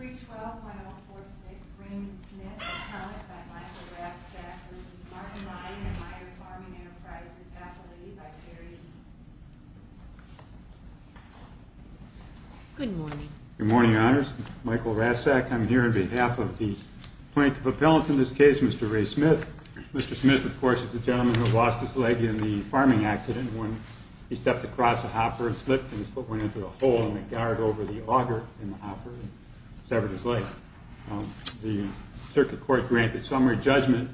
312-1046, Raymond Smith, appellate by Michael Rastak v. Martin Ryan at Myre's Farming Enterprises, appellate by Jerry Heaton. Good morning. Good morning, Your Honors. Michael Rastak, I'm here on behalf of the plaintiff appellant in this case, Mr. Ray Smith. Mr. Smith, of course, is the gentleman who lost his leg in the farming accident when he stepped across a hopper and slipped, and his foot went into a hole, and the guard over the auger in the hopper severed his leg. The circuit court granted summary judgment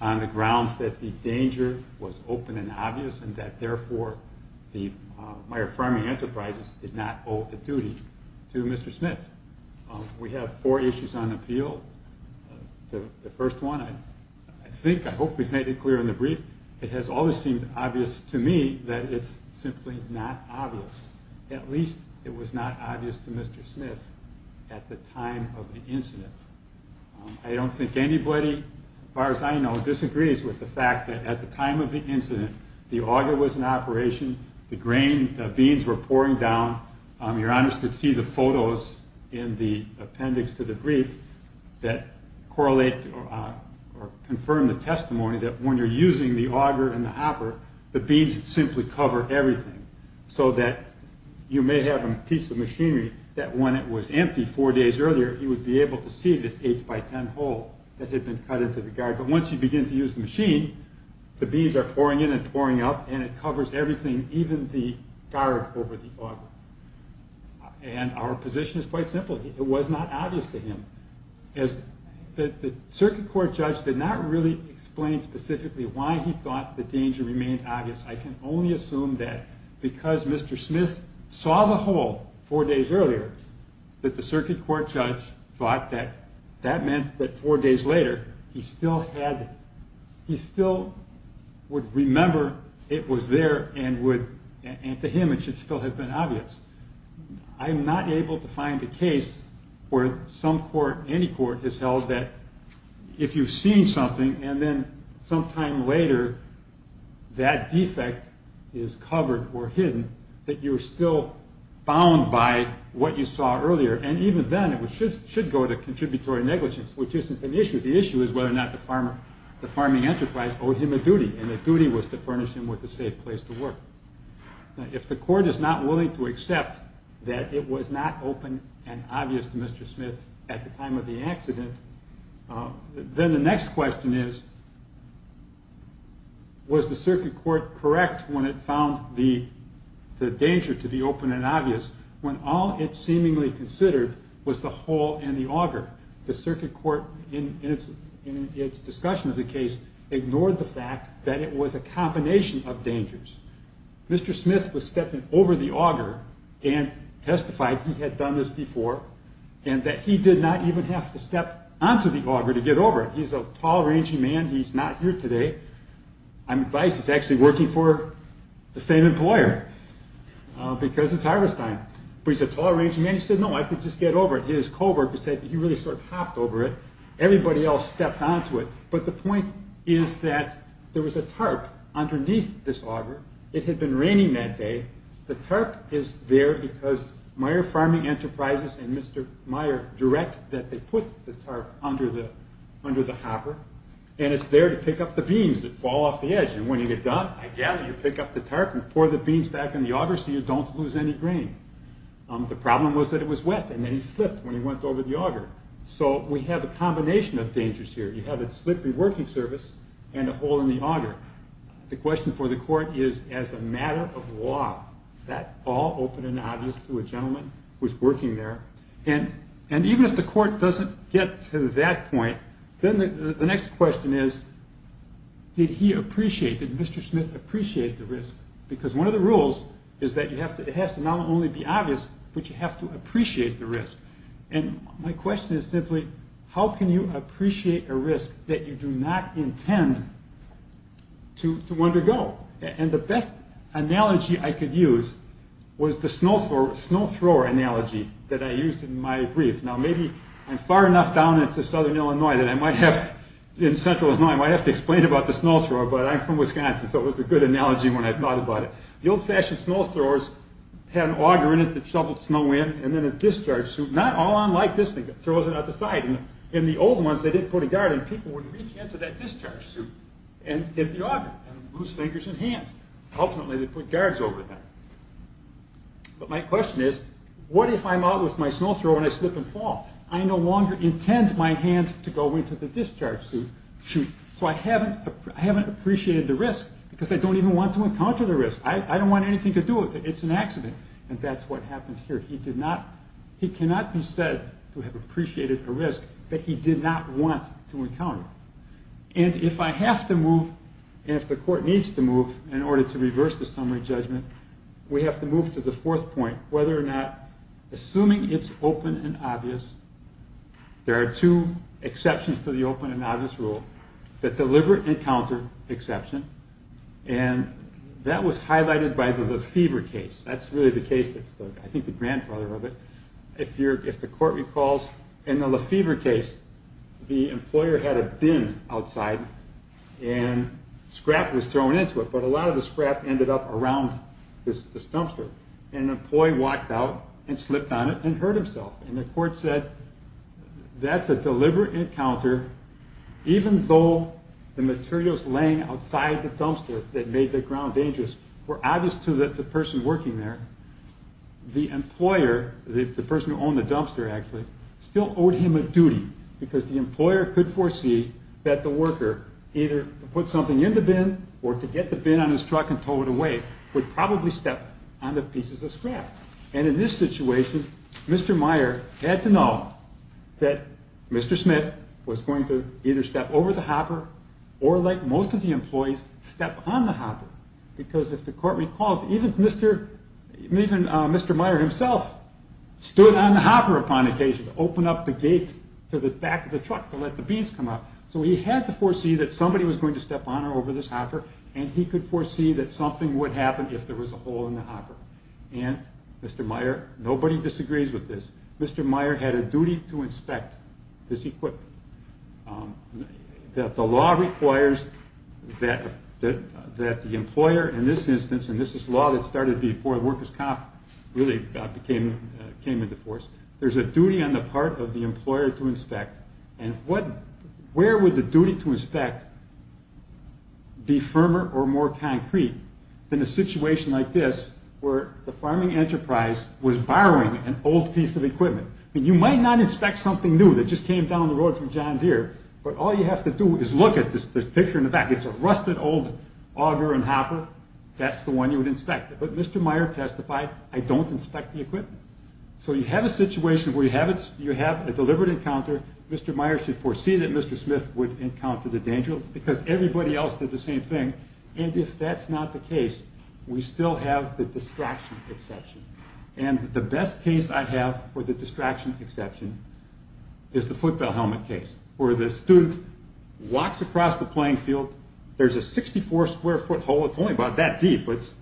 on the grounds that the danger was open and obvious, and that therefore the Myre Farming Enterprises did not owe the duty to Mr. Smith. We have four issues on appeal. The first one, I think, I hope we've made it clear in the brief, it has always seemed obvious to me that it's simply not obvious. At least it was not obvious to Mr. Smith at the time of the incident. I don't think anybody, as far as I know, disagrees with the fact that at the time of the incident, the auger was in operation, the beans were pouring down. Your Honors could see the photos in the appendix to the brief that correlate or confirm the testimony that when you're using the auger and the hopper, the beans simply cover everything, so that you may have a piece of machinery that when it was empty four days earlier, you would be able to see this 8 by 10 hole that had been cut into the guard. But once you begin to use the machine, the beans are pouring in and pouring up, and it covers everything, even the guard over the auger. And our position is quite simple. It was not obvious to him. The circuit court judge did not really explain specifically why he thought the danger remained obvious. I can only assume that because Mr. Smith saw the hole four days earlier, that the circuit court judge thought that that meant that four days later, he still would remember it was there and to him it should still have been obvious. I'm not able to find a case where any court has held that if you've seen something and then sometime later that defect is covered or hidden, that you're still bound by what you saw earlier. And even then, it should go to contributory negligence, which isn't an issue. The issue is whether or not the farming enterprise owed him a duty, and the duty was to furnish him with a safe place to work. If the court is not willing to accept that it was not open and obvious to Mr. Smith at the time of the accident, then the next question is, was the circuit court correct when it found the danger to be open and obvious when all it seemingly considered was the hole and the auger? The circuit court, in its discussion of the case, ignored the fact that it was a combination of dangers. Mr. Smith was stepping over the auger and testified he had done this before and that he did not even have to step onto the auger to get over it. He's a tall, rangy man. He's not here today. I'm advised he's actually working for the same employer because it's harvest time. But he's a tall, rangy man. He said, no, I could just get over it. His co-worker said he really sort of hopped over it. Everybody else stepped onto it. But the point is that there was a tarp underneath this auger. It had been raining that day. The tarp is there because Meyer Farming Enterprises and Mr. Meyer direct that they put the tarp under the hopper and it's there to pick up the beans that fall off the edge. And when you get done, I gather you pick up the tarp and pour the beans back in the auger so you don't lose any grain. The problem was that it was wet. And then he slipped when he went over the auger. So we have a combination of dangers here. You have a slippery working surface and a hole in the auger. The question for the court is, as a matter of law, is that all open and obvious to a gentleman who's working there? And even if the court doesn't get to that point, then the next question is, did he appreciate, did Mr. Smith appreciate the risk? Because one of the rules is that it has to not only be obvious, but you have to appreciate the risk. And my question is simply, how can you appreciate a risk that you do not intend to undergo? And the best analogy I could use was the snow thrower analogy that I used in my brief. Now maybe I'm far enough down into southern Illinois that I might have to explain about the snow thrower, but I'm from Wisconsin, so it was a good analogy when I thought about it. The old-fashioned snow throwers had an auger in it that shoveled snow in, and then a discharge suit, not all on like this thing that throws it out the side. In the old ones, they didn't put a guard in. People would reach into that discharge suit and hit the auger and lose fingers and hands. Ultimately, they put guards over them. But my question is, what if I'm out with my snow thrower and I slip and fall? I no longer intend my hand to go into the discharge suit. So I haven't appreciated the risk because I don't even want to encounter the risk. I don't want anything to do with it. It's an accident. And that's what happened here. He cannot be said to have appreciated a risk that he did not want to encounter. And if I have to move, and if the court needs to move in order to reverse the summary judgment, we have to move to the fourth point, whether or not, assuming it's open and obvious, there are two exceptions to the open and obvious rule, the deliberate encounter exception, and that was highlighted by the Lefevre case. That's really the case that's, I think, the grandfather of it. If the court recalls, in the Lefevre case, the employer had a bin outside, and scrap was thrown into it, but a lot of the scrap ended up around this dumpster. And an employee walked out and slipped on it and hurt himself. And the court said, that's a deliberate encounter, even though the materials laying outside the dumpster that made the ground dangerous were obvious to the person working there. The employer, the person who owned the dumpster, actually, still owed him a duty because the employer could foresee that the worker, either to put something in the bin or to get the bin on his truck and tow it away, would probably step on the pieces of scrap. And in this situation, Mr. Meyer had to know that Mr. Smith was going to either step over the hopper or, like most of the employees, step on the hopper. Because if the court recalls, even Mr. Meyer himself stood on the hopper upon occasion to open up the gate to the back of the truck to let the beans come out. So he had to foresee that somebody was going to step on or over this hopper and he could foresee that something would happen if there was a hole in the hopper. And Mr. Meyer, nobody disagrees with this, Mr. Meyer had a duty to inspect this equipment. The law requires that the employer, in this instance, and this is law that started before the workers' comp really came into force, there's a duty on the part of the employer to inspect. And where would the duty to inspect be firmer or more concrete than a situation like this where the farming enterprise was borrowing an old piece of equipment? I mean, you might not inspect something new that just came down the road from John Deere, but all you have to do is look at this picture in the back. It's a rusted old auger and hopper. That's the one you would inspect. But Mr. Meyer testified, I don't inspect the equipment. So you have a situation where you have a deliberate encounter. Mr. Meyer should foresee that Mr. Smith would encounter the danger because everybody else did the same thing. And if that's not the case, we still have the distraction exception. And the best case I have for the distraction exception is the football helmet case where the student walks across the playing field. There's a 64-square-foot hole. It's only about that deep. It's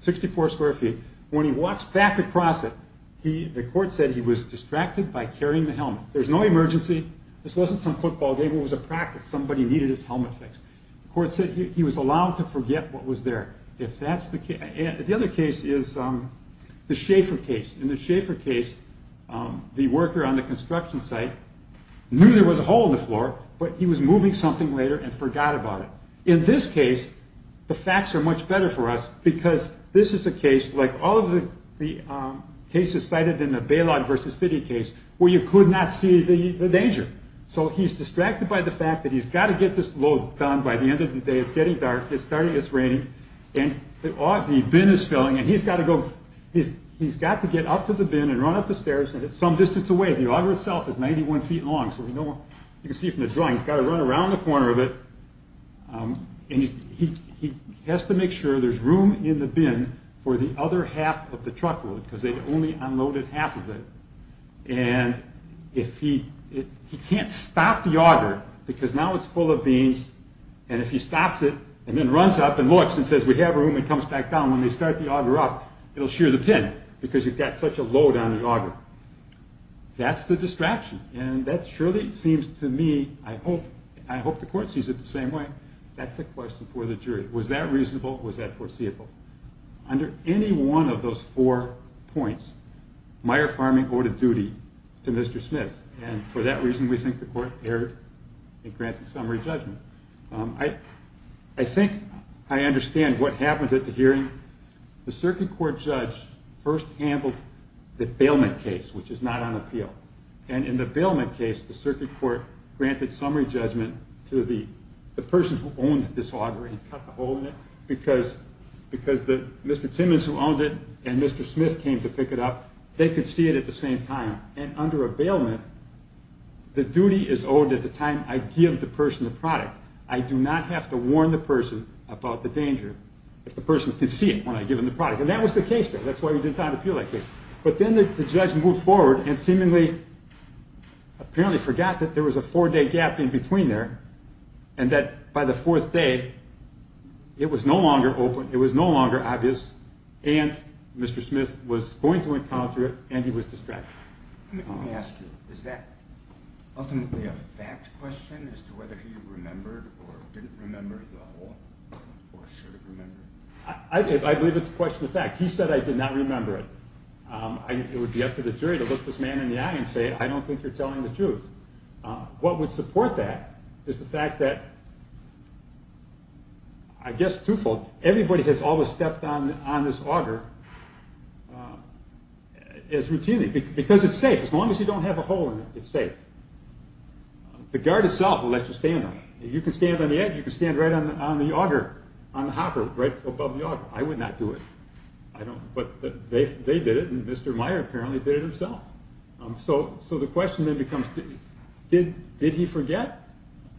64 square feet. When he walks back across it, the court said he was distracted by carrying the helmet. There's no emergency. This wasn't some football game. It was a practice. Somebody needed his helmet fixed. The court said he was allowed to forget what was there. The other case is the Schaefer case. In the Schaefer case, the worker on the construction site knew there was a hole in the floor, but he was moving something later and forgot about it. In this case, the facts are much better for us because this is a case, like all of the cases cited in the Balog versus City case, where you could not see the danger. So he's distracted by the fact that he's got to get this load done by the end of the day. It's getting dark. It's starting. It's raining. The bin is filling, and he's got to get up to the bin and run up the stairs. It's some distance away. The auger itself is 91 feet long. You can see from the drawing. He's got to run around the corner of it. He has to make sure there's room in the bin for the other half of the truckload because they'd only unloaded half of it. He can't stop the auger because now it's full of beans. And if he stops it and then runs up and looks and says, we have room and comes back down, when they start the auger up, it'll shear the pin because you've got such a load on the auger. That's the distraction, and that surely seems to me, I hope the court sees it the same way. That's a question for the jury. Was that reasonable? Was that foreseeable? Under any one of those four points, Meyer Farming owed a duty to Mr. Smith, and for that reason we think the court erred in granting summary judgment. I think I understand what happened at the hearing. The circuit court judge first handled the bailment case, which is not on appeal. In the bailment case, the circuit court granted summary judgment to the person who owned this auger and cut the hole in it because Mr. Timmons, who owned it, and Mr. Smith came to pick it up, they could see it at the same time. And under a bailment, the duty is owed at the time I give the person the product. I do not have to warn the person about the danger if the person could see it when I give them the product. And that was the case there. That's why we did not appeal that case. But then the judge moved forward and seemingly, apparently forgot that there was a four-day gap in between there, and that by the fourth day, it was no longer open, it was no longer obvious, and Mr. Smith was going to encounter it, and he was distracted. Let me ask you, is that ultimately a fact question as to whether he remembered or didn't remember the hole, or should have remembered it? I believe it's a question of fact. He said I did not remember it. It would be up to the jury to look this man in the eye and say, I don't think you're telling the truth. What would support that is the fact that, I guess twofold, everybody has always stepped on this auger as routinely, because it's safe. As long as you don't have a hole in it, it's safe. The guard itself will let you stand on it. You can stand on the edge, you can stand right on the auger, on the hopper, right above the auger. I would not do it. But they did it, and Mr. Meyer apparently did it himself. So the question then becomes, did he forget?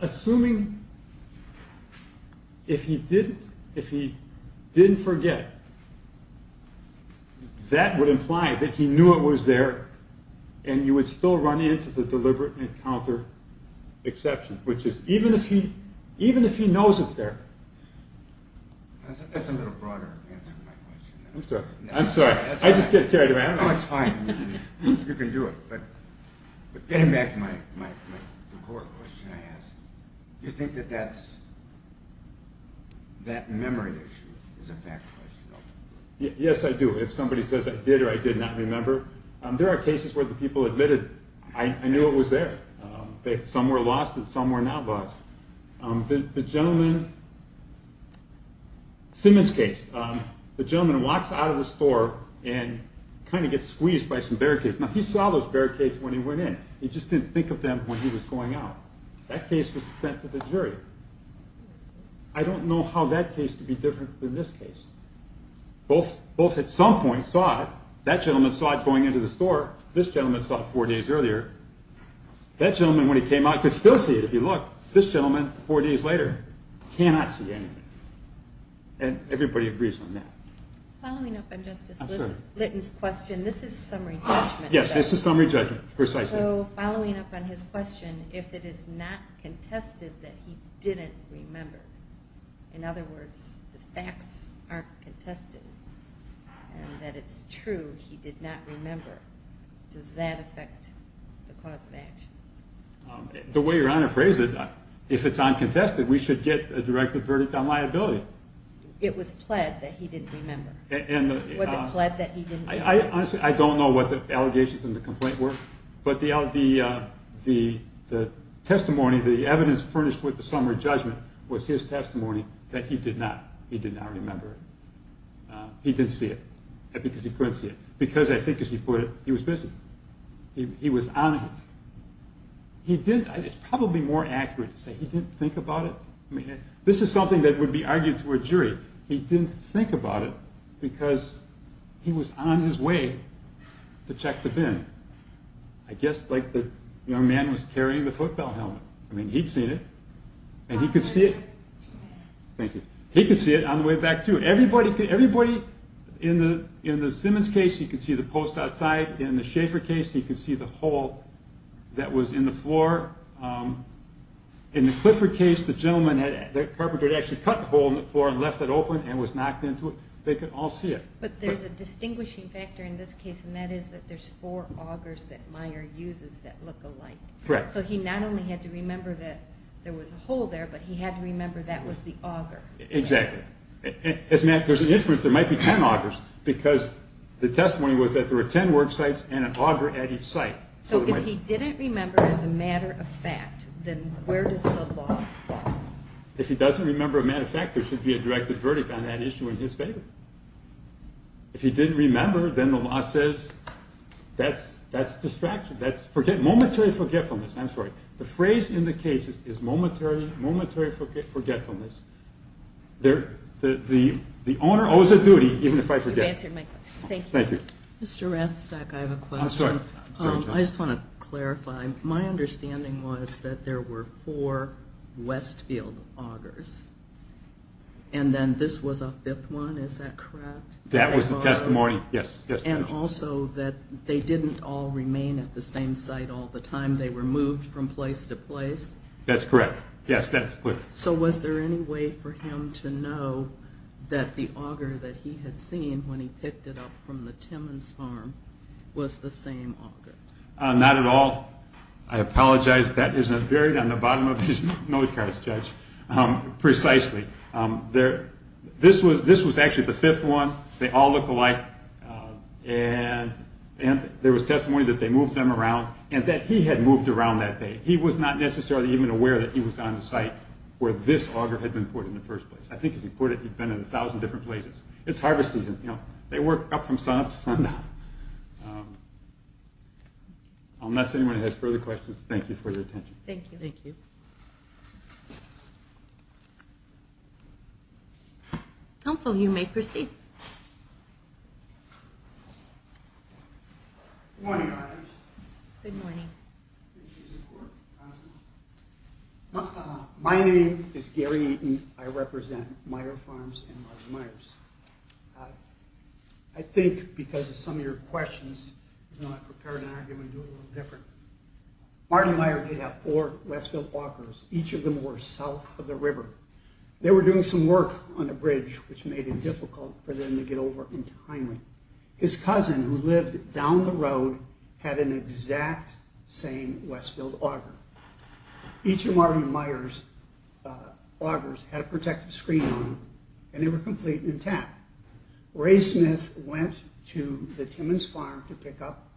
Assuming if he didn't forget, that would imply that he knew it was there, and you would still run into the deliberate encounter exception, which is even if he knows it's there. That's a little broader answer to my question. I'm sorry. I'm sorry. I just get carried away. I don't know. It's fine. You can do it. But getting back to the core question I asked, do you think that that memory issue is a fact question? Yes, I do. If somebody says I did or I did not remember, there are cases where the people admitted, I knew it was there. Some were lost and some were not lost. The gentleman, Simmons case, the gentleman walks out of the store and kind of gets squeezed by some barricades. Now he saw those barricades when he went in. He just didn't think of them when he was going out. That case was sent to the jury. I don't know how that case could be different than this case. Both at some point saw it. That gentleman saw it going into the store. This gentleman saw it four days earlier. That gentleman, when he came out, could still see it if he looked. This gentleman, four days later, cannot see anything. And everybody agrees on that. Following up on Justice Litton's question, this is summary judgment. Yes, this is summary judgment, precisely. So following up on his question, if it is not contested that he didn't remember, in other words, the facts aren't contested and that it's true he did not remember, does that affect the cause of action? The way Your Honor phrased it, if it's uncontested, we should get a directed verdict on liability. It was pled that he didn't remember. Was it pled that he didn't remember? Honestly, I don't know what the allegations in the complaint were, but the testimony, the evidence furnished with the summary judgment was his testimony that he did not remember it. He didn't see it because he couldn't see it. Because, I think as he put it, he was busy. He was on it. It's probably more accurate to say he didn't think about it. This is something that would be argued to a jury. He didn't think about it because he was on his way to check the bin. I guess like the young man was carrying the football helmet. I mean, he'd seen it, and he could see it. Thank you. He could see it on the way back through. In the Simmons case, he could see the post outside. In the Schaefer case, he could see the hole that was in the floor. In the Clifford case, the carpenter had actually cut the hole in the floor and left it open and was knocked into it. They could all see it. But there's a distinguishing factor in this case, and that is that there's four augers that Meyer uses that look alike. Correct. So he not only had to remember that there was a hole there, but he had to remember that was the auger. Exactly. There's an inference there might be 10 augers because the testimony was that there were 10 work sites and an auger at each site. So if he didn't remember as a matter of fact, then where does the law fall? If he doesn't remember a matter of fact, there should be a directed verdict on that issue in his favor. If he didn't remember, then the law says that's distraction, that's momentary forgetfulness. I'm sorry. The phrase in the case is momentary forgetfulness. The owner owes a duty even if I forget. You've answered my question. Thank you. Mr. Rathsak, I have a question. I'm sorry. I just want to clarify. My understanding was that there were four Westfield augers, and then this was a fifth one. Is that correct? That was the testimony, yes. And also that they didn't all remain at the same site all the time. They were moved from place to place? That's correct. Yes, that's correct. So was there any way for him to know that the auger that he had seen when he picked it up from the Timmons farm was the same auger? Not at all. I apologize. That isn't buried on the bottom of these notecards, Judge. Precisely. This was actually the fifth one. They all look alike. And there was testimony that they moved them around and that he had moved around that day. He was not necessarily even aware that he was on the site where this auger had been put in the first place. I think, as he put it, he'd been in a thousand different places. It's harvest season. They work up from sunup to sundown. Unless anyone has further questions, thank you for your attention. Thank you. Thank you. Counsel, you may proceed. Good morning, Your Honors. Good morning. My name is Gary Eaton. I represent Meijer Farms and Martin Meijer's. I think because of some of your questions, I'm going to prepare an argument and do it a little different. Martin Meijer did have four Westfield walkers. Each of them were south of the river. They were doing some work on a bridge, which made it difficult for them to get over entirely. His cousin, who lived down the road, had an exact same Westfield auger. Each of Martin Meijer's augers had a protective screen on them, and they were complete and intact. Ray Smith went to the Timmons Farm to pick up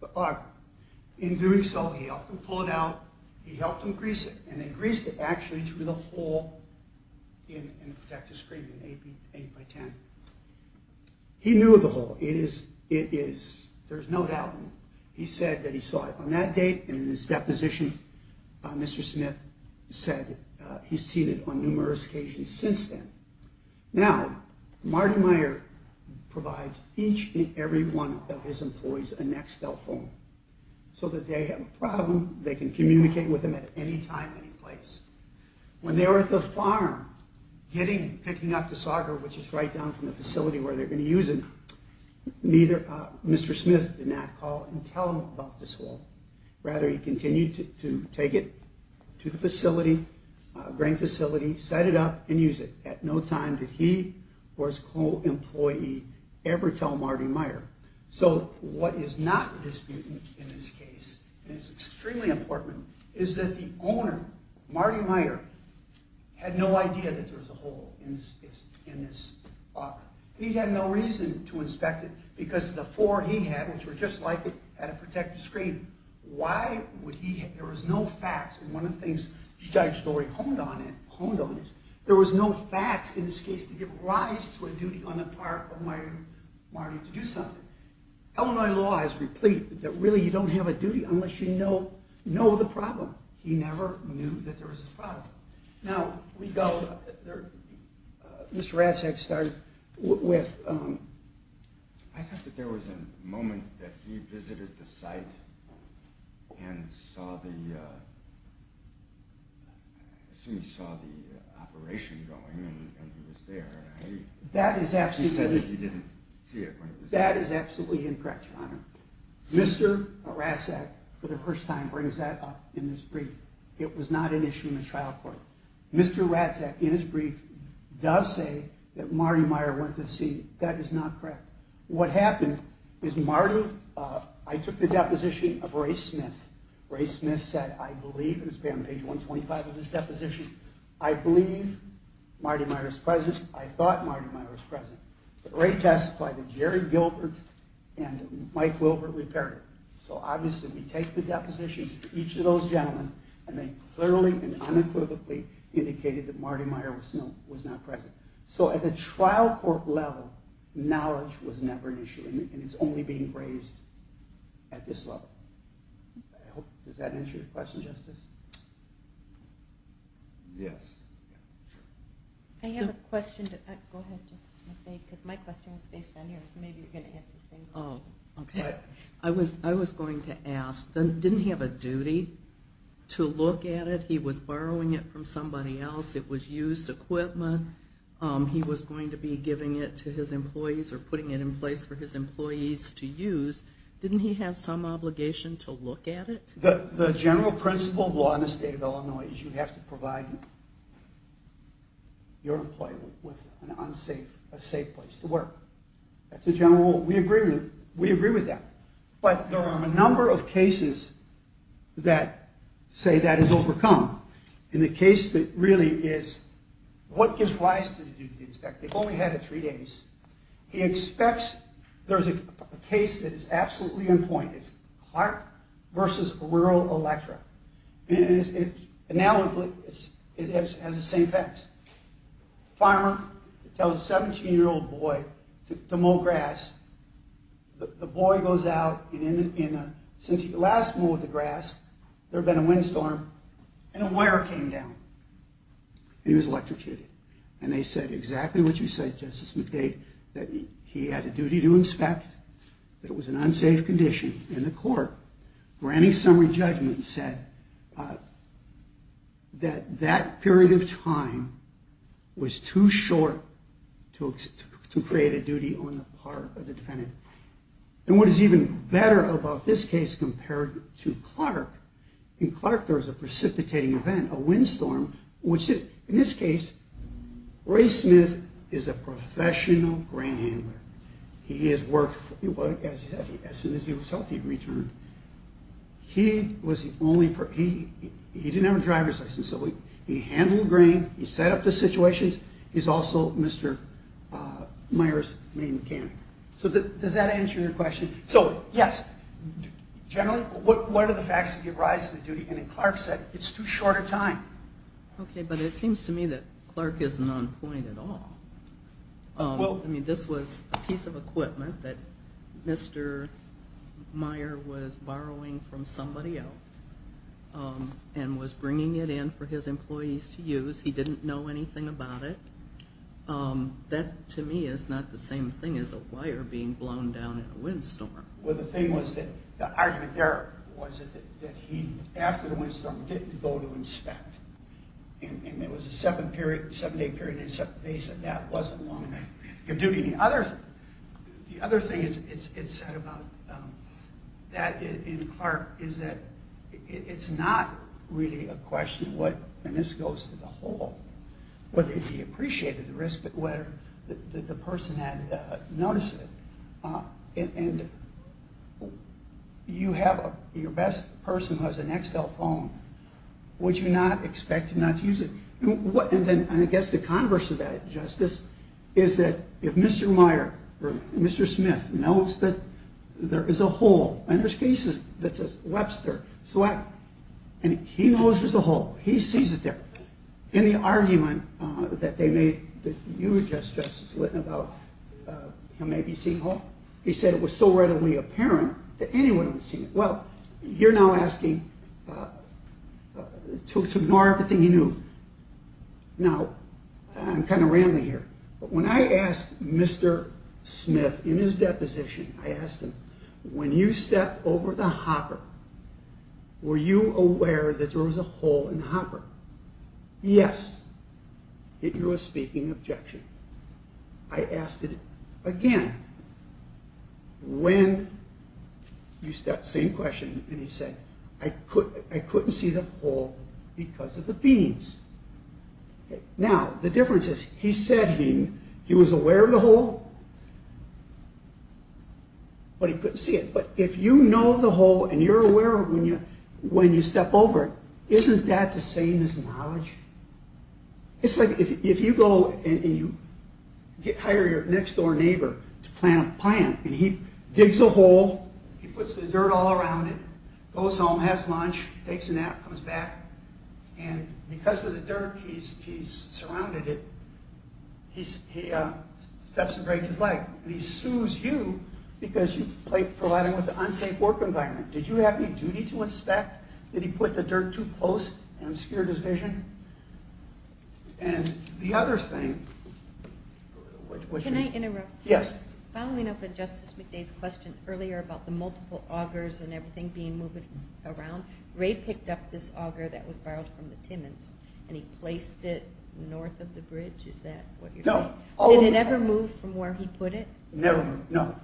the auger. In doing so, he helped him pull it out. He helped him grease it, and they greased it actually through the hole in the protective screen, an 8x10. He knew of the hole. There's no doubt. He said that he saw it on that date, and in his deposition, Mr. Smith said he's seen it on numerous occasions since then. Now, Martin Meijer provides each and every one of his employees a Nextel phone so that they have a problem, they can communicate with him at any time, any place. When they were at the farm picking up this auger, which is right down from the facility where they're going to use it, Mr. Smith did not call and tell him about this hole. Rather, he continued to take it to the facility, grain facility, set it up, and use it. At no time did he or his co-employee ever tell Martin Meijer. So what is not disputed in this case, and it's extremely important, is that the owner, Martin Meijer, had no idea that there was a hole in this auger. He had no reason to inspect it, because the four he had, which were just like it, had a protective screen. Why would he? There was no facts. And one of the things Judge Lurie honed on is, there was no facts in this case to give rise to a duty on the part of Martin Meijer to do something. Illinois law is replete that really you don't have a duty unless you know the problem. He never knew that there was a problem. Now, we go, Mr. Ratzak started with... I thought that there was a moment that he visited the site and saw the, I assume he saw the operation going and he was there. That is absolutely... He said that he didn't see it. That is absolutely incorrect, Your Honor. Mr. Ratzak, for the first time, brings that up in this brief. It was not an issue in the trial court. Mr. Ratzak, in his brief, does say that Martin Meijer went to the scene. That is not correct. What happened is Martin... I took the deposition of Ray Smith. Ray Smith said, I believe, it was page 125 of his deposition, I believe Martin Meijer is present. I thought Martin Meijer was present. But Ray testified that Jerry Gilbert and Mike Wilbert repaired it. So obviously we take the depositions of each of those gentlemen and they clearly and unequivocally indicated that Martin Meijer was not present. So at the trial court level, knowledge was never an issue and it's only being raised at this level. Does that answer your question, Justice? Yes. I have a question. Go ahead, Justice Smith. My question is based on yours. Maybe you're going to answer the same question. I was going to ask, didn't he have a duty to look at it? He was borrowing it from somebody else. It was used equipment. He was going to be giving it to his employees or putting it in place for his employees to use. Didn't he have some obligation to look at it? The general principle of law in the state of Illinois is you have to provide your employee with a safe place to work. That's a general rule. We agree with that. But there are a number of cases that say that is overcome. And the case that really is what gives rise to the duty to inspect, they've only had it three days. He expects there's a case that is absolutely on point. It's Clark v. Rural Electra. And now it has the same effects. A farmer tells a 17-year-old boy to mow grass. The boy goes out, and since he last mowed the grass, there had been a windstorm, and a wire came down. He was electrocuted. And they said exactly what you said, Justice McDade, that he had a duty to inspect, that it was an unsafe condition. In the court, granting summary judgment said that that period of time was too short to create a duty on the part of the defendant. And what is even better about this case compared to Clark, in Clark there was a precipitating event, a windstorm, which in this case, Ray Smith is a professional grain handler. He has worked as soon as he was healthy and returned. He didn't have a driver's license, so he handled the grain. He set up the situations. He's also Mr. Meyer's main mechanic. So does that answer your question? So, yes, generally, what are the facts that give rise to the duty? And as Clark said, it's too short a time. Okay, but it seems to me that Clark isn't on point at all. I mean, this was a piece of equipment that Mr. Meyer was borrowing from somebody else and was bringing it in for his employees to use. He didn't know anything about it. That, to me, is not the same thing as a wire being blown down in a windstorm. Well, the thing was that the argument there was that he, after the windstorm, didn't go to inspect. And it was a seven-day period. They said that wasn't long enough. The other thing it said about that in Clark is that it's not really a question what, and this goes to the whole, whether he appreciated the risk, but whether the person had noticed it. And you have your best person who has an Excel phone. Would you not expect to not use it? And I guess the converse of that, Justice, is that if Mr. Meyer or Mr. Smith knows that there is a hole, and there's cases that says Webster, and he knows there's a hole. He sees it there. In the argument that they made that you addressed, Justice Litton, about he may be seeing a hole, he said it was so readily apparent that anyone would see it. Well, you're now asking to ignore everything he knew. Now, I'm kind of rambling here, but when I asked Mr. Smith in his deposition, I asked him, when you stepped over the hopper, were you aware that there was a hole in the hopper? Yes. It drew a speaking objection. I asked it again. When you stepped, same question, and he said, I couldn't see the hole because of the beans. Now, the difference is he said he was aware of the hole, but he couldn't see it. But if you know the hole and you're aware of it when you step over it, isn't that the same as knowledge? It's like if you go and you hire your next-door neighbor to plant a plant, and he digs a hole, he puts the dirt all around it, goes home, has lunch, takes a nap, comes back, and because of the dirt, he's surrounded it, he steps and breaks his leg, and he sues you because you provided him with an unsafe work environment. Did you have any duty to inspect? Did he put the dirt too close and obscured his vision? And the other thing... Can I interrupt? Yes. Following up with Justice McDade's question earlier about the multiple augers and everything being moved around, Ray picked up this auger that was borrowed from the Timmons, and he placed it north of the bridge. Is that what you're saying? No. Did it ever move from where he put it? Never moved, no.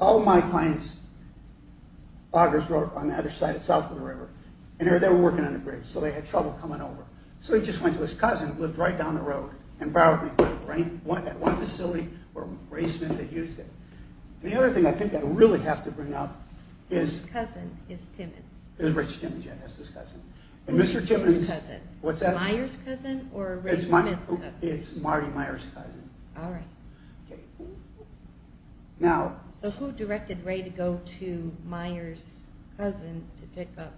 All my clients' augers were on the other side, south of the river, and they were working on the bridge, so they had trouble coming over. So he just went to his cousin who lived right down the road and borrowed me one facility where Ray Smith had used it. The other thing I think I really have to bring up is... His cousin is Timmons. Rich Timmons, yes, that's his cousin. Who is his cousin? What's that? Meyer's cousin or Ray Smith's cousin? It's Marty Meyer's cousin. All right. Okay. Now... So who directed Ray to go to Meyer's cousin to pick up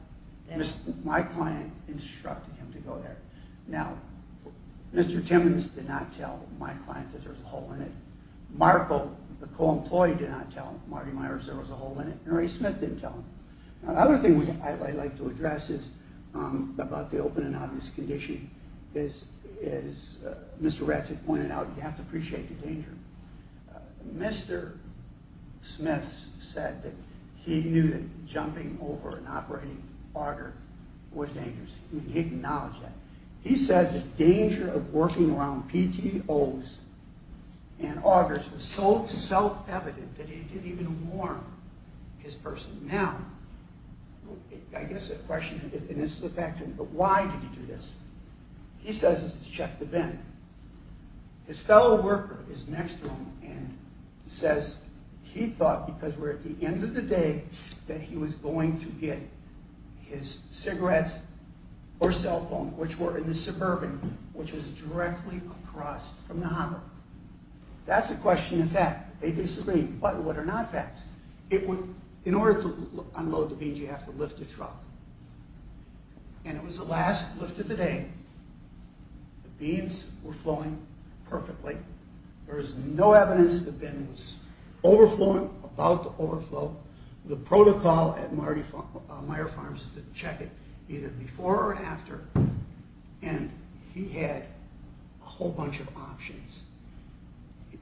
that? My client instructed him to go there. Now, Mr. Timmons did not tell my client that there was a hole in it. Marco, the co-employee, did not tell Marty Meyer that there was a hole in it, and Ray Smith didn't tell him. Another thing I'd like to address is about the open and obvious condition. As Mr. Ratzig pointed out, you have to appreciate the danger. Mr. Smith said that he knew that jumping over an operating auger was dangerous. He acknowledged that. He said the danger of working around PTOs and augers was so self-evident that he didn't even warn his person. Now, I guess a question, and this is a fact, but why did he do this? He says it's to check the bin. His fellow worker is next to him and says he thought, because we're at the end of the day, that he was going to get his cigarettes or cell phone, which were in the suburban, which was directly across from the auger. That's a question of fact. They disagree. But what are not facts? In order to unload the bins, you have to lift a truck, and it was the last lift of the day. The bins were flowing perfectly. There was no evidence the bin was overflowing, about to overflow. The protocol at Meijer Farms is to check it either before or after, and he had a whole bunch of options.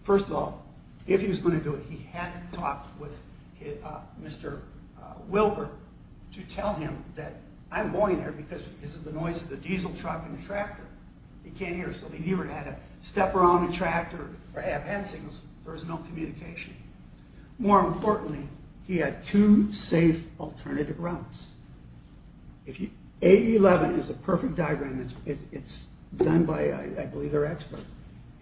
First of all, if he was going to do it, he had to talk with Mr. Wilbur to tell him that I'm going there because of the noise of the diesel truck and the tractor. He can't hear us. He would have to step around the tractor or have hand signals. There was no communication. More importantly, he had two safe alternative routes. A11 is a perfect diagram. It's done by, I believe, our expert.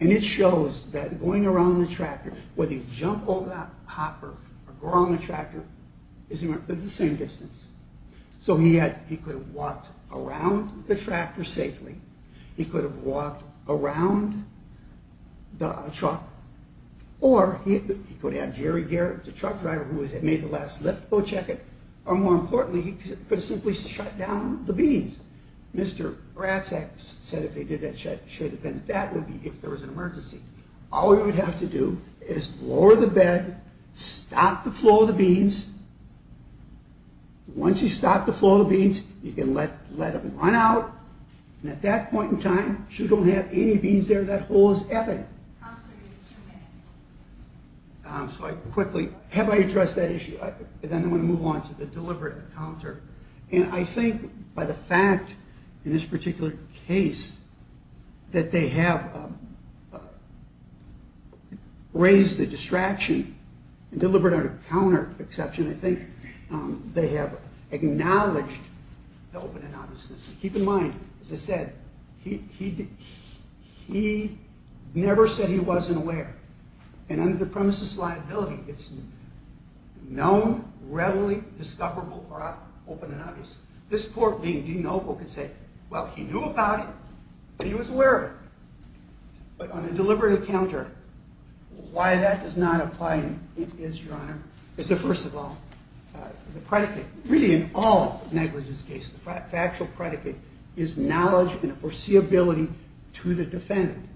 And it shows that going around the tractor, whether you jump over that hopper or go around the tractor, it's the same distance. So he could have walked around the tractor safely. He could have walked around the truck, or he could have had Jerry Garrett, the truck driver, who had made the last lift go check it, or, more importantly, he could have simply shut down the bins. Mr. Bracek said if he did that, it should have been. That would be if there was an emergency. All he would have to do is lower the bed, stop the flow of the bins. Once he stopped the flow of the bins, he can let them run out. And at that point in time, if you don't have any bins there, that hole is ebbing. So I quickly have my address that issue. Then I'm going to move on to the deliberate encounter. And I think by the fact, in this particular case, that they have raised the distraction and deliberate encounter exception, I think they have acknowledged the open and honestness. Keep in mind, as I said, he never said he wasn't aware. And under the premises liability, it's known, readily discoverable, or open and obvious. This poor being didn't know if he could say, well, he knew about it. He was aware of it. But on a deliberate encounter, why that does not apply in his, Your Honor, is that, first of all, the predicate, really in all negligence cases, the factual predicate is knowledge and foreseeability to the defendant.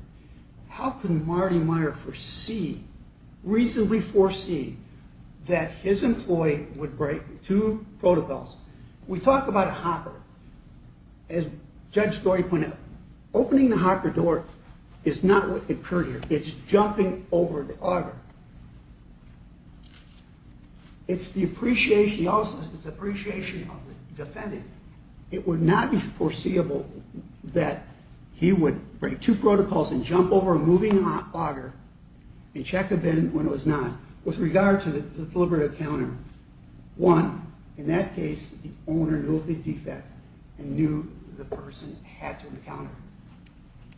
How can Marty Meyer foresee, reasonably foresee, that his employee would break two protocols? We talk about a hopper. As Judge Story pointed out, opening the hopper door is not what occurred here. It's jumping over the auger. It's the appreciation of the defendant. It would not be foreseeable that he would break two protocols and jump over a moving auger and check a bin when it was not. With regard to the deliberate encounter, one, in that case, the owner knew of the defect and knew the person had to encounter it.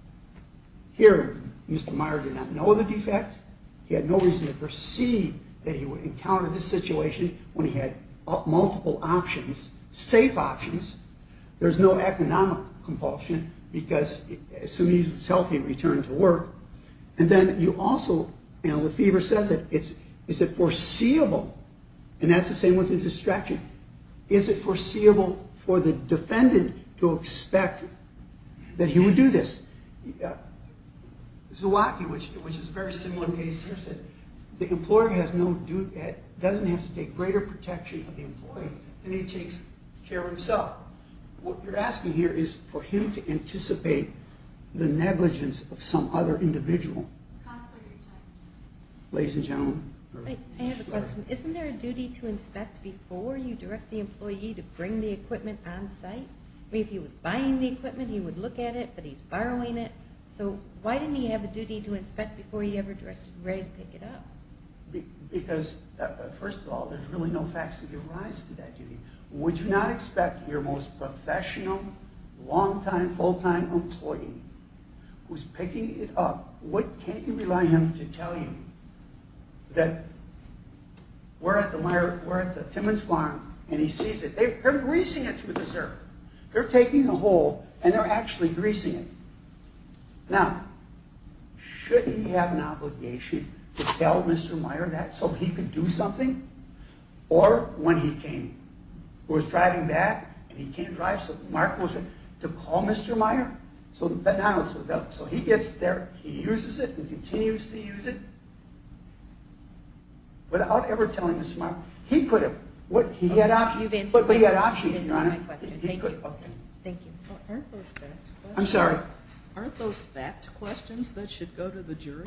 Here, Mr. Meyer did not know of the defect. He had no reason to foresee that he would encounter this situation when he had multiple options, safe options. There's no economic compulsion because somebody's healthy return to work. And then you also, you know, the fever says it. Is it foreseeable? And that's the same with the distraction. Is it foreseeable for the defendant to expect that he would do this? Zewacki, which is a very similar case here, said the employer doesn't have to take greater protection of the employee and he takes care of himself. What you're asking here is for him to anticipate the negligence of some other individual. Ladies and gentlemen. I have a question. Isn't there a duty to inspect before you direct the employee to bring the equipment on site? I mean, if he was buying the equipment, he would look at it, but he's borrowing it. So why didn't he have a duty to inspect before he ever directed Ray to pick it up? Because, first of all, there's really no facts that give rise to that duty. Would you not expect your most professional, long-time, full-time employee, who's picking it up, what can't you rely on him to tell you that we're at the Timmons Farm and he sees it? They're greasing it for dessert. They're taking a hole and they're actually greasing it. Now, shouldn't he have an obligation to tell Mr. Meyer that so he could do something? Or when he came, who was driving back and he can't drive, so Mark was there to call Mr. Meyer? So he gets there, he uses it, and continues to use it without ever telling Mr. Meyer. He could have. He had options. You've answered my question. But he had options, Your Honor. Thank you. Thank you. Aren't those fact questions? I'm sorry? Aren't those fact questions that should go to the jury?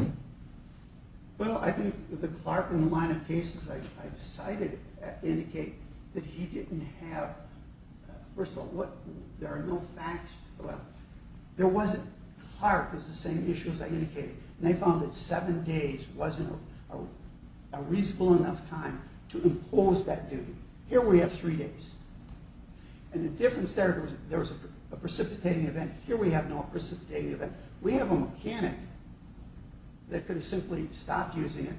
Well, I think the clerk in the line of cases I cited indicate that he didn't have... First of all, there are no facts... There wasn't... Clark is the same issue as I indicated. And they found that seven days wasn't a reasonable enough time to impose that duty. Here we have three days. And the difference there, there was a precipitating event. Here we have no precipitating event. We have a mechanic that could have simply stopped using it,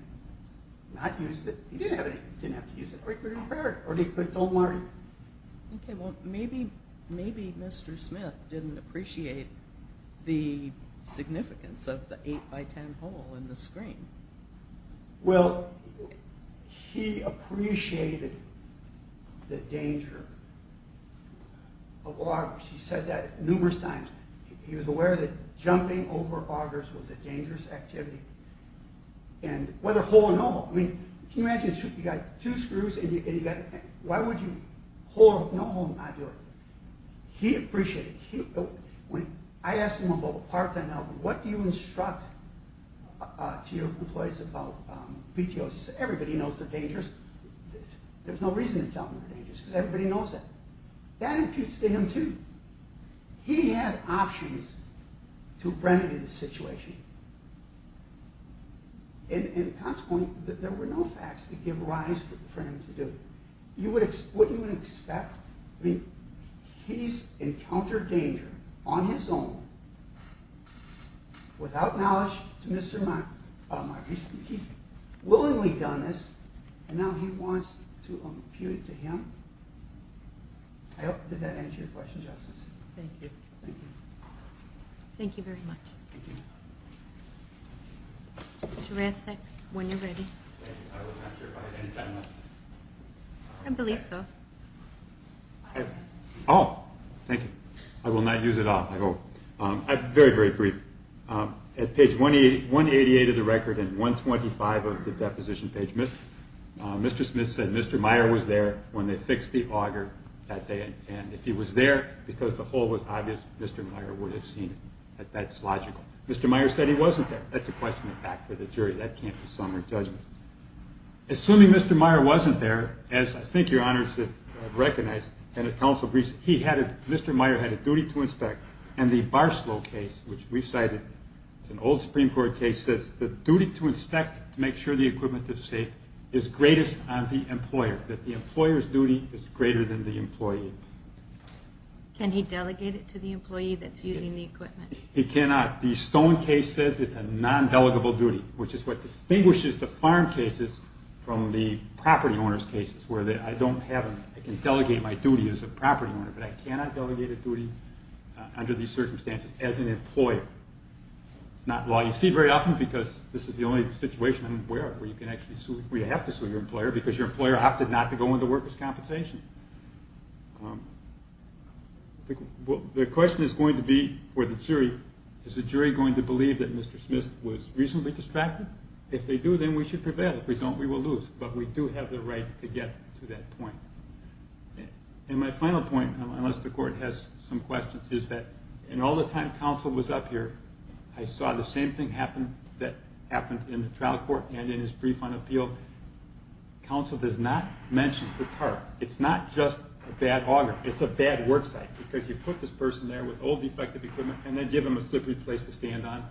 not used it. He didn't have to use it. Or he could have repaired it. Or he could have told Marty. Okay, well, maybe Mr. Smith didn't appreciate the significance of the 8x10 hole in the screen. Well, he appreciated the danger. He said that numerous times. He was aware that jumping over augers was a dangerous activity. And whether hole or no hole. I mean, can you imagine, you got two screws and you got... Why would you hole or no hole and not do it? He appreciated it. I asked him about the parts I know. What do you instruct to your employees about PTOs? He said, everybody knows they're dangerous. because everybody knows that. That imputes to him, too. He had options to remedy the situation. And consequently, there were no facts to give rise for him to do. What you would expect, I mean, he's encountered danger on his own, without knowledge to Mr. Marty. He's willingly done this, and now he wants to impute it to him. I hope did that answer your question, Justice? Thank you. Thank you. Thank you very much. Mr. Rancic, when you're ready. Thank you. I believe so. Oh, thank you. I will not use it all, I hope. Very, very brief. At page 188 of the record and 125 of the deposition page, Mr. Smith said Mr. Meyer was there when they fixed the auger that day. And if he was there because the hole was obvious, Mr. Meyer would have seen it. That's logical. Mr. Meyer said he wasn't there. That's a question of fact for the jury. That can't be summed or judged. Assuming Mr. Meyer wasn't there, as I think your honors have recognized, and the council agrees, Mr. Meyer had a duty to inspect. And the Barslow case, which we've cited, says the duty to inspect to make sure the equipment is safe is greatest on the employer, that the employer's duty is greater than the employee. Can he delegate it to the employee that's using the equipment? He cannot. The Stone case says it's a non-delegable duty, which is what distinguishes the farm cases from the property owner's cases where I can delegate my duty as a property owner, but I cannot delegate a duty under these circumstances as an employer. It's not a law you see very often because this is the only situation I'm aware of where you have to sue your employer because your employer opted not to go into workers' compensation. The question is going to be for the jury, is the jury going to believe that Mr. Smith was reasonably distracted? If they do, then we should prevail. If we don't, we will lose. But we do have the right to get to that point. And my final point, unless the court has some questions, is that in all the time council was up here, I saw the same thing happen that happened in the trial court and in his brief on appeal. Council does not mention the tarp. It's not just a bad auger. It's a bad worksite because you put this person there with old defective equipment and then give them a slippery place to stand on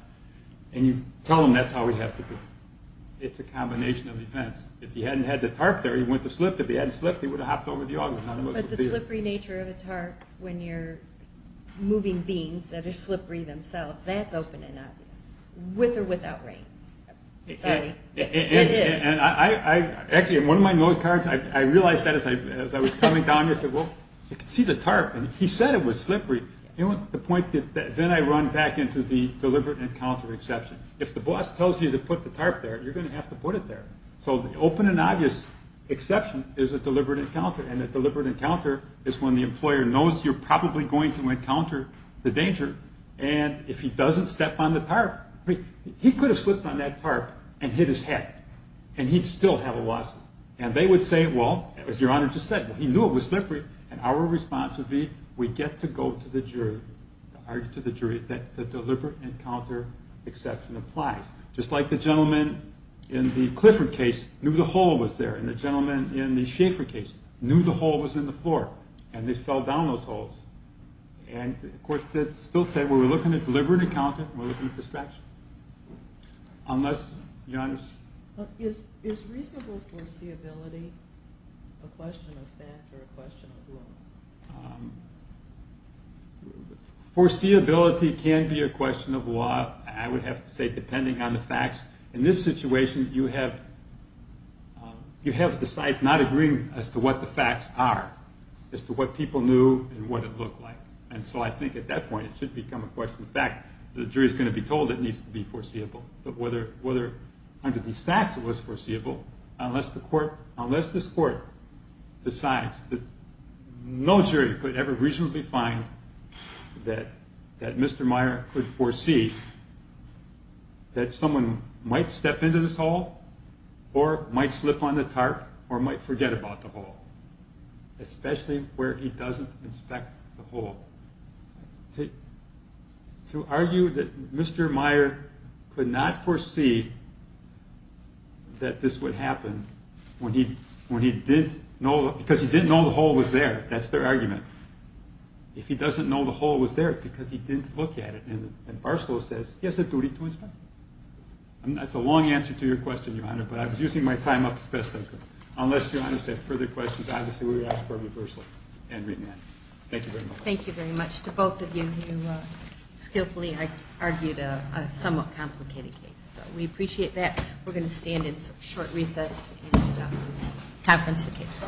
and you tell them that's how it has to be. It's a combination of events. If he hadn't had the tarp there, he wouldn't have slipped. If he hadn't slipped, he would have hopped over the auger. But the slippery nature of a tarp when you're moving beans that are slippery themselves, that's open and obvious, with or without rain. It is. Actually, in one of my note cards, I realized that as I was coming down here. I said, well, you can see the tarp. He said it was slippery. Then I run back into the deliberate encounter exception. If the boss tells you to put the tarp there, you're going to have to put it there. So the open and obvious exception is a deliberate encounter. And a deliberate encounter is when the employer knows you're probably going to encounter the danger. And if he doesn't step on the tarp, he could have slipped on that tarp and hit his head. And he'd still have a lawsuit. And they would say, well, as Your Honor just said, he knew it was slippery. And our response would be, we get to go to the jury, argue to the jury that the deliberate encounter exception applies. Just like the gentleman in the Clifford case knew the hole was there. And the gentleman in the Schaefer case knew the hole was in the floor. And they fell down those holes. And the court still said, we're looking at deliberate encounter, we're looking at distraction. Unless, Your Honor? Is reasonable foreseeability a question of fact or a question of law? Foreseeability can be a question of law, I would have to say, depending on the facts. In this situation, you have the sites not agreeing as to what the facts are, as to what people knew and what it looked like. And so I think at that point it should become a question of fact. The jury's going to be told it needs to be foreseeable. But whether under these facts it was foreseeable, unless this court decides that no jury could ever reasonably find that Mr. Meyer could foresee that someone might step into this hole or might slip on the tarp or might forget about the hole. Especially where he doesn't inspect the hole. To argue that Mr. Meyer could not foresee that this would happen because he didn't know the hole was there, that's their argument. If he doesn't know the hole was there because he didn't look at it. And Barstow says, he has a duty to inspect it. That's a long answer to your question, Your Honor, but I was using my time up as best I could. Unless Your Honor has further questions, obviously we ask for them personally. Thank you very much. To both of you who skillfully argued a somewhat complicated case. We appreciate that. We're going to stand in short recess and conference the case.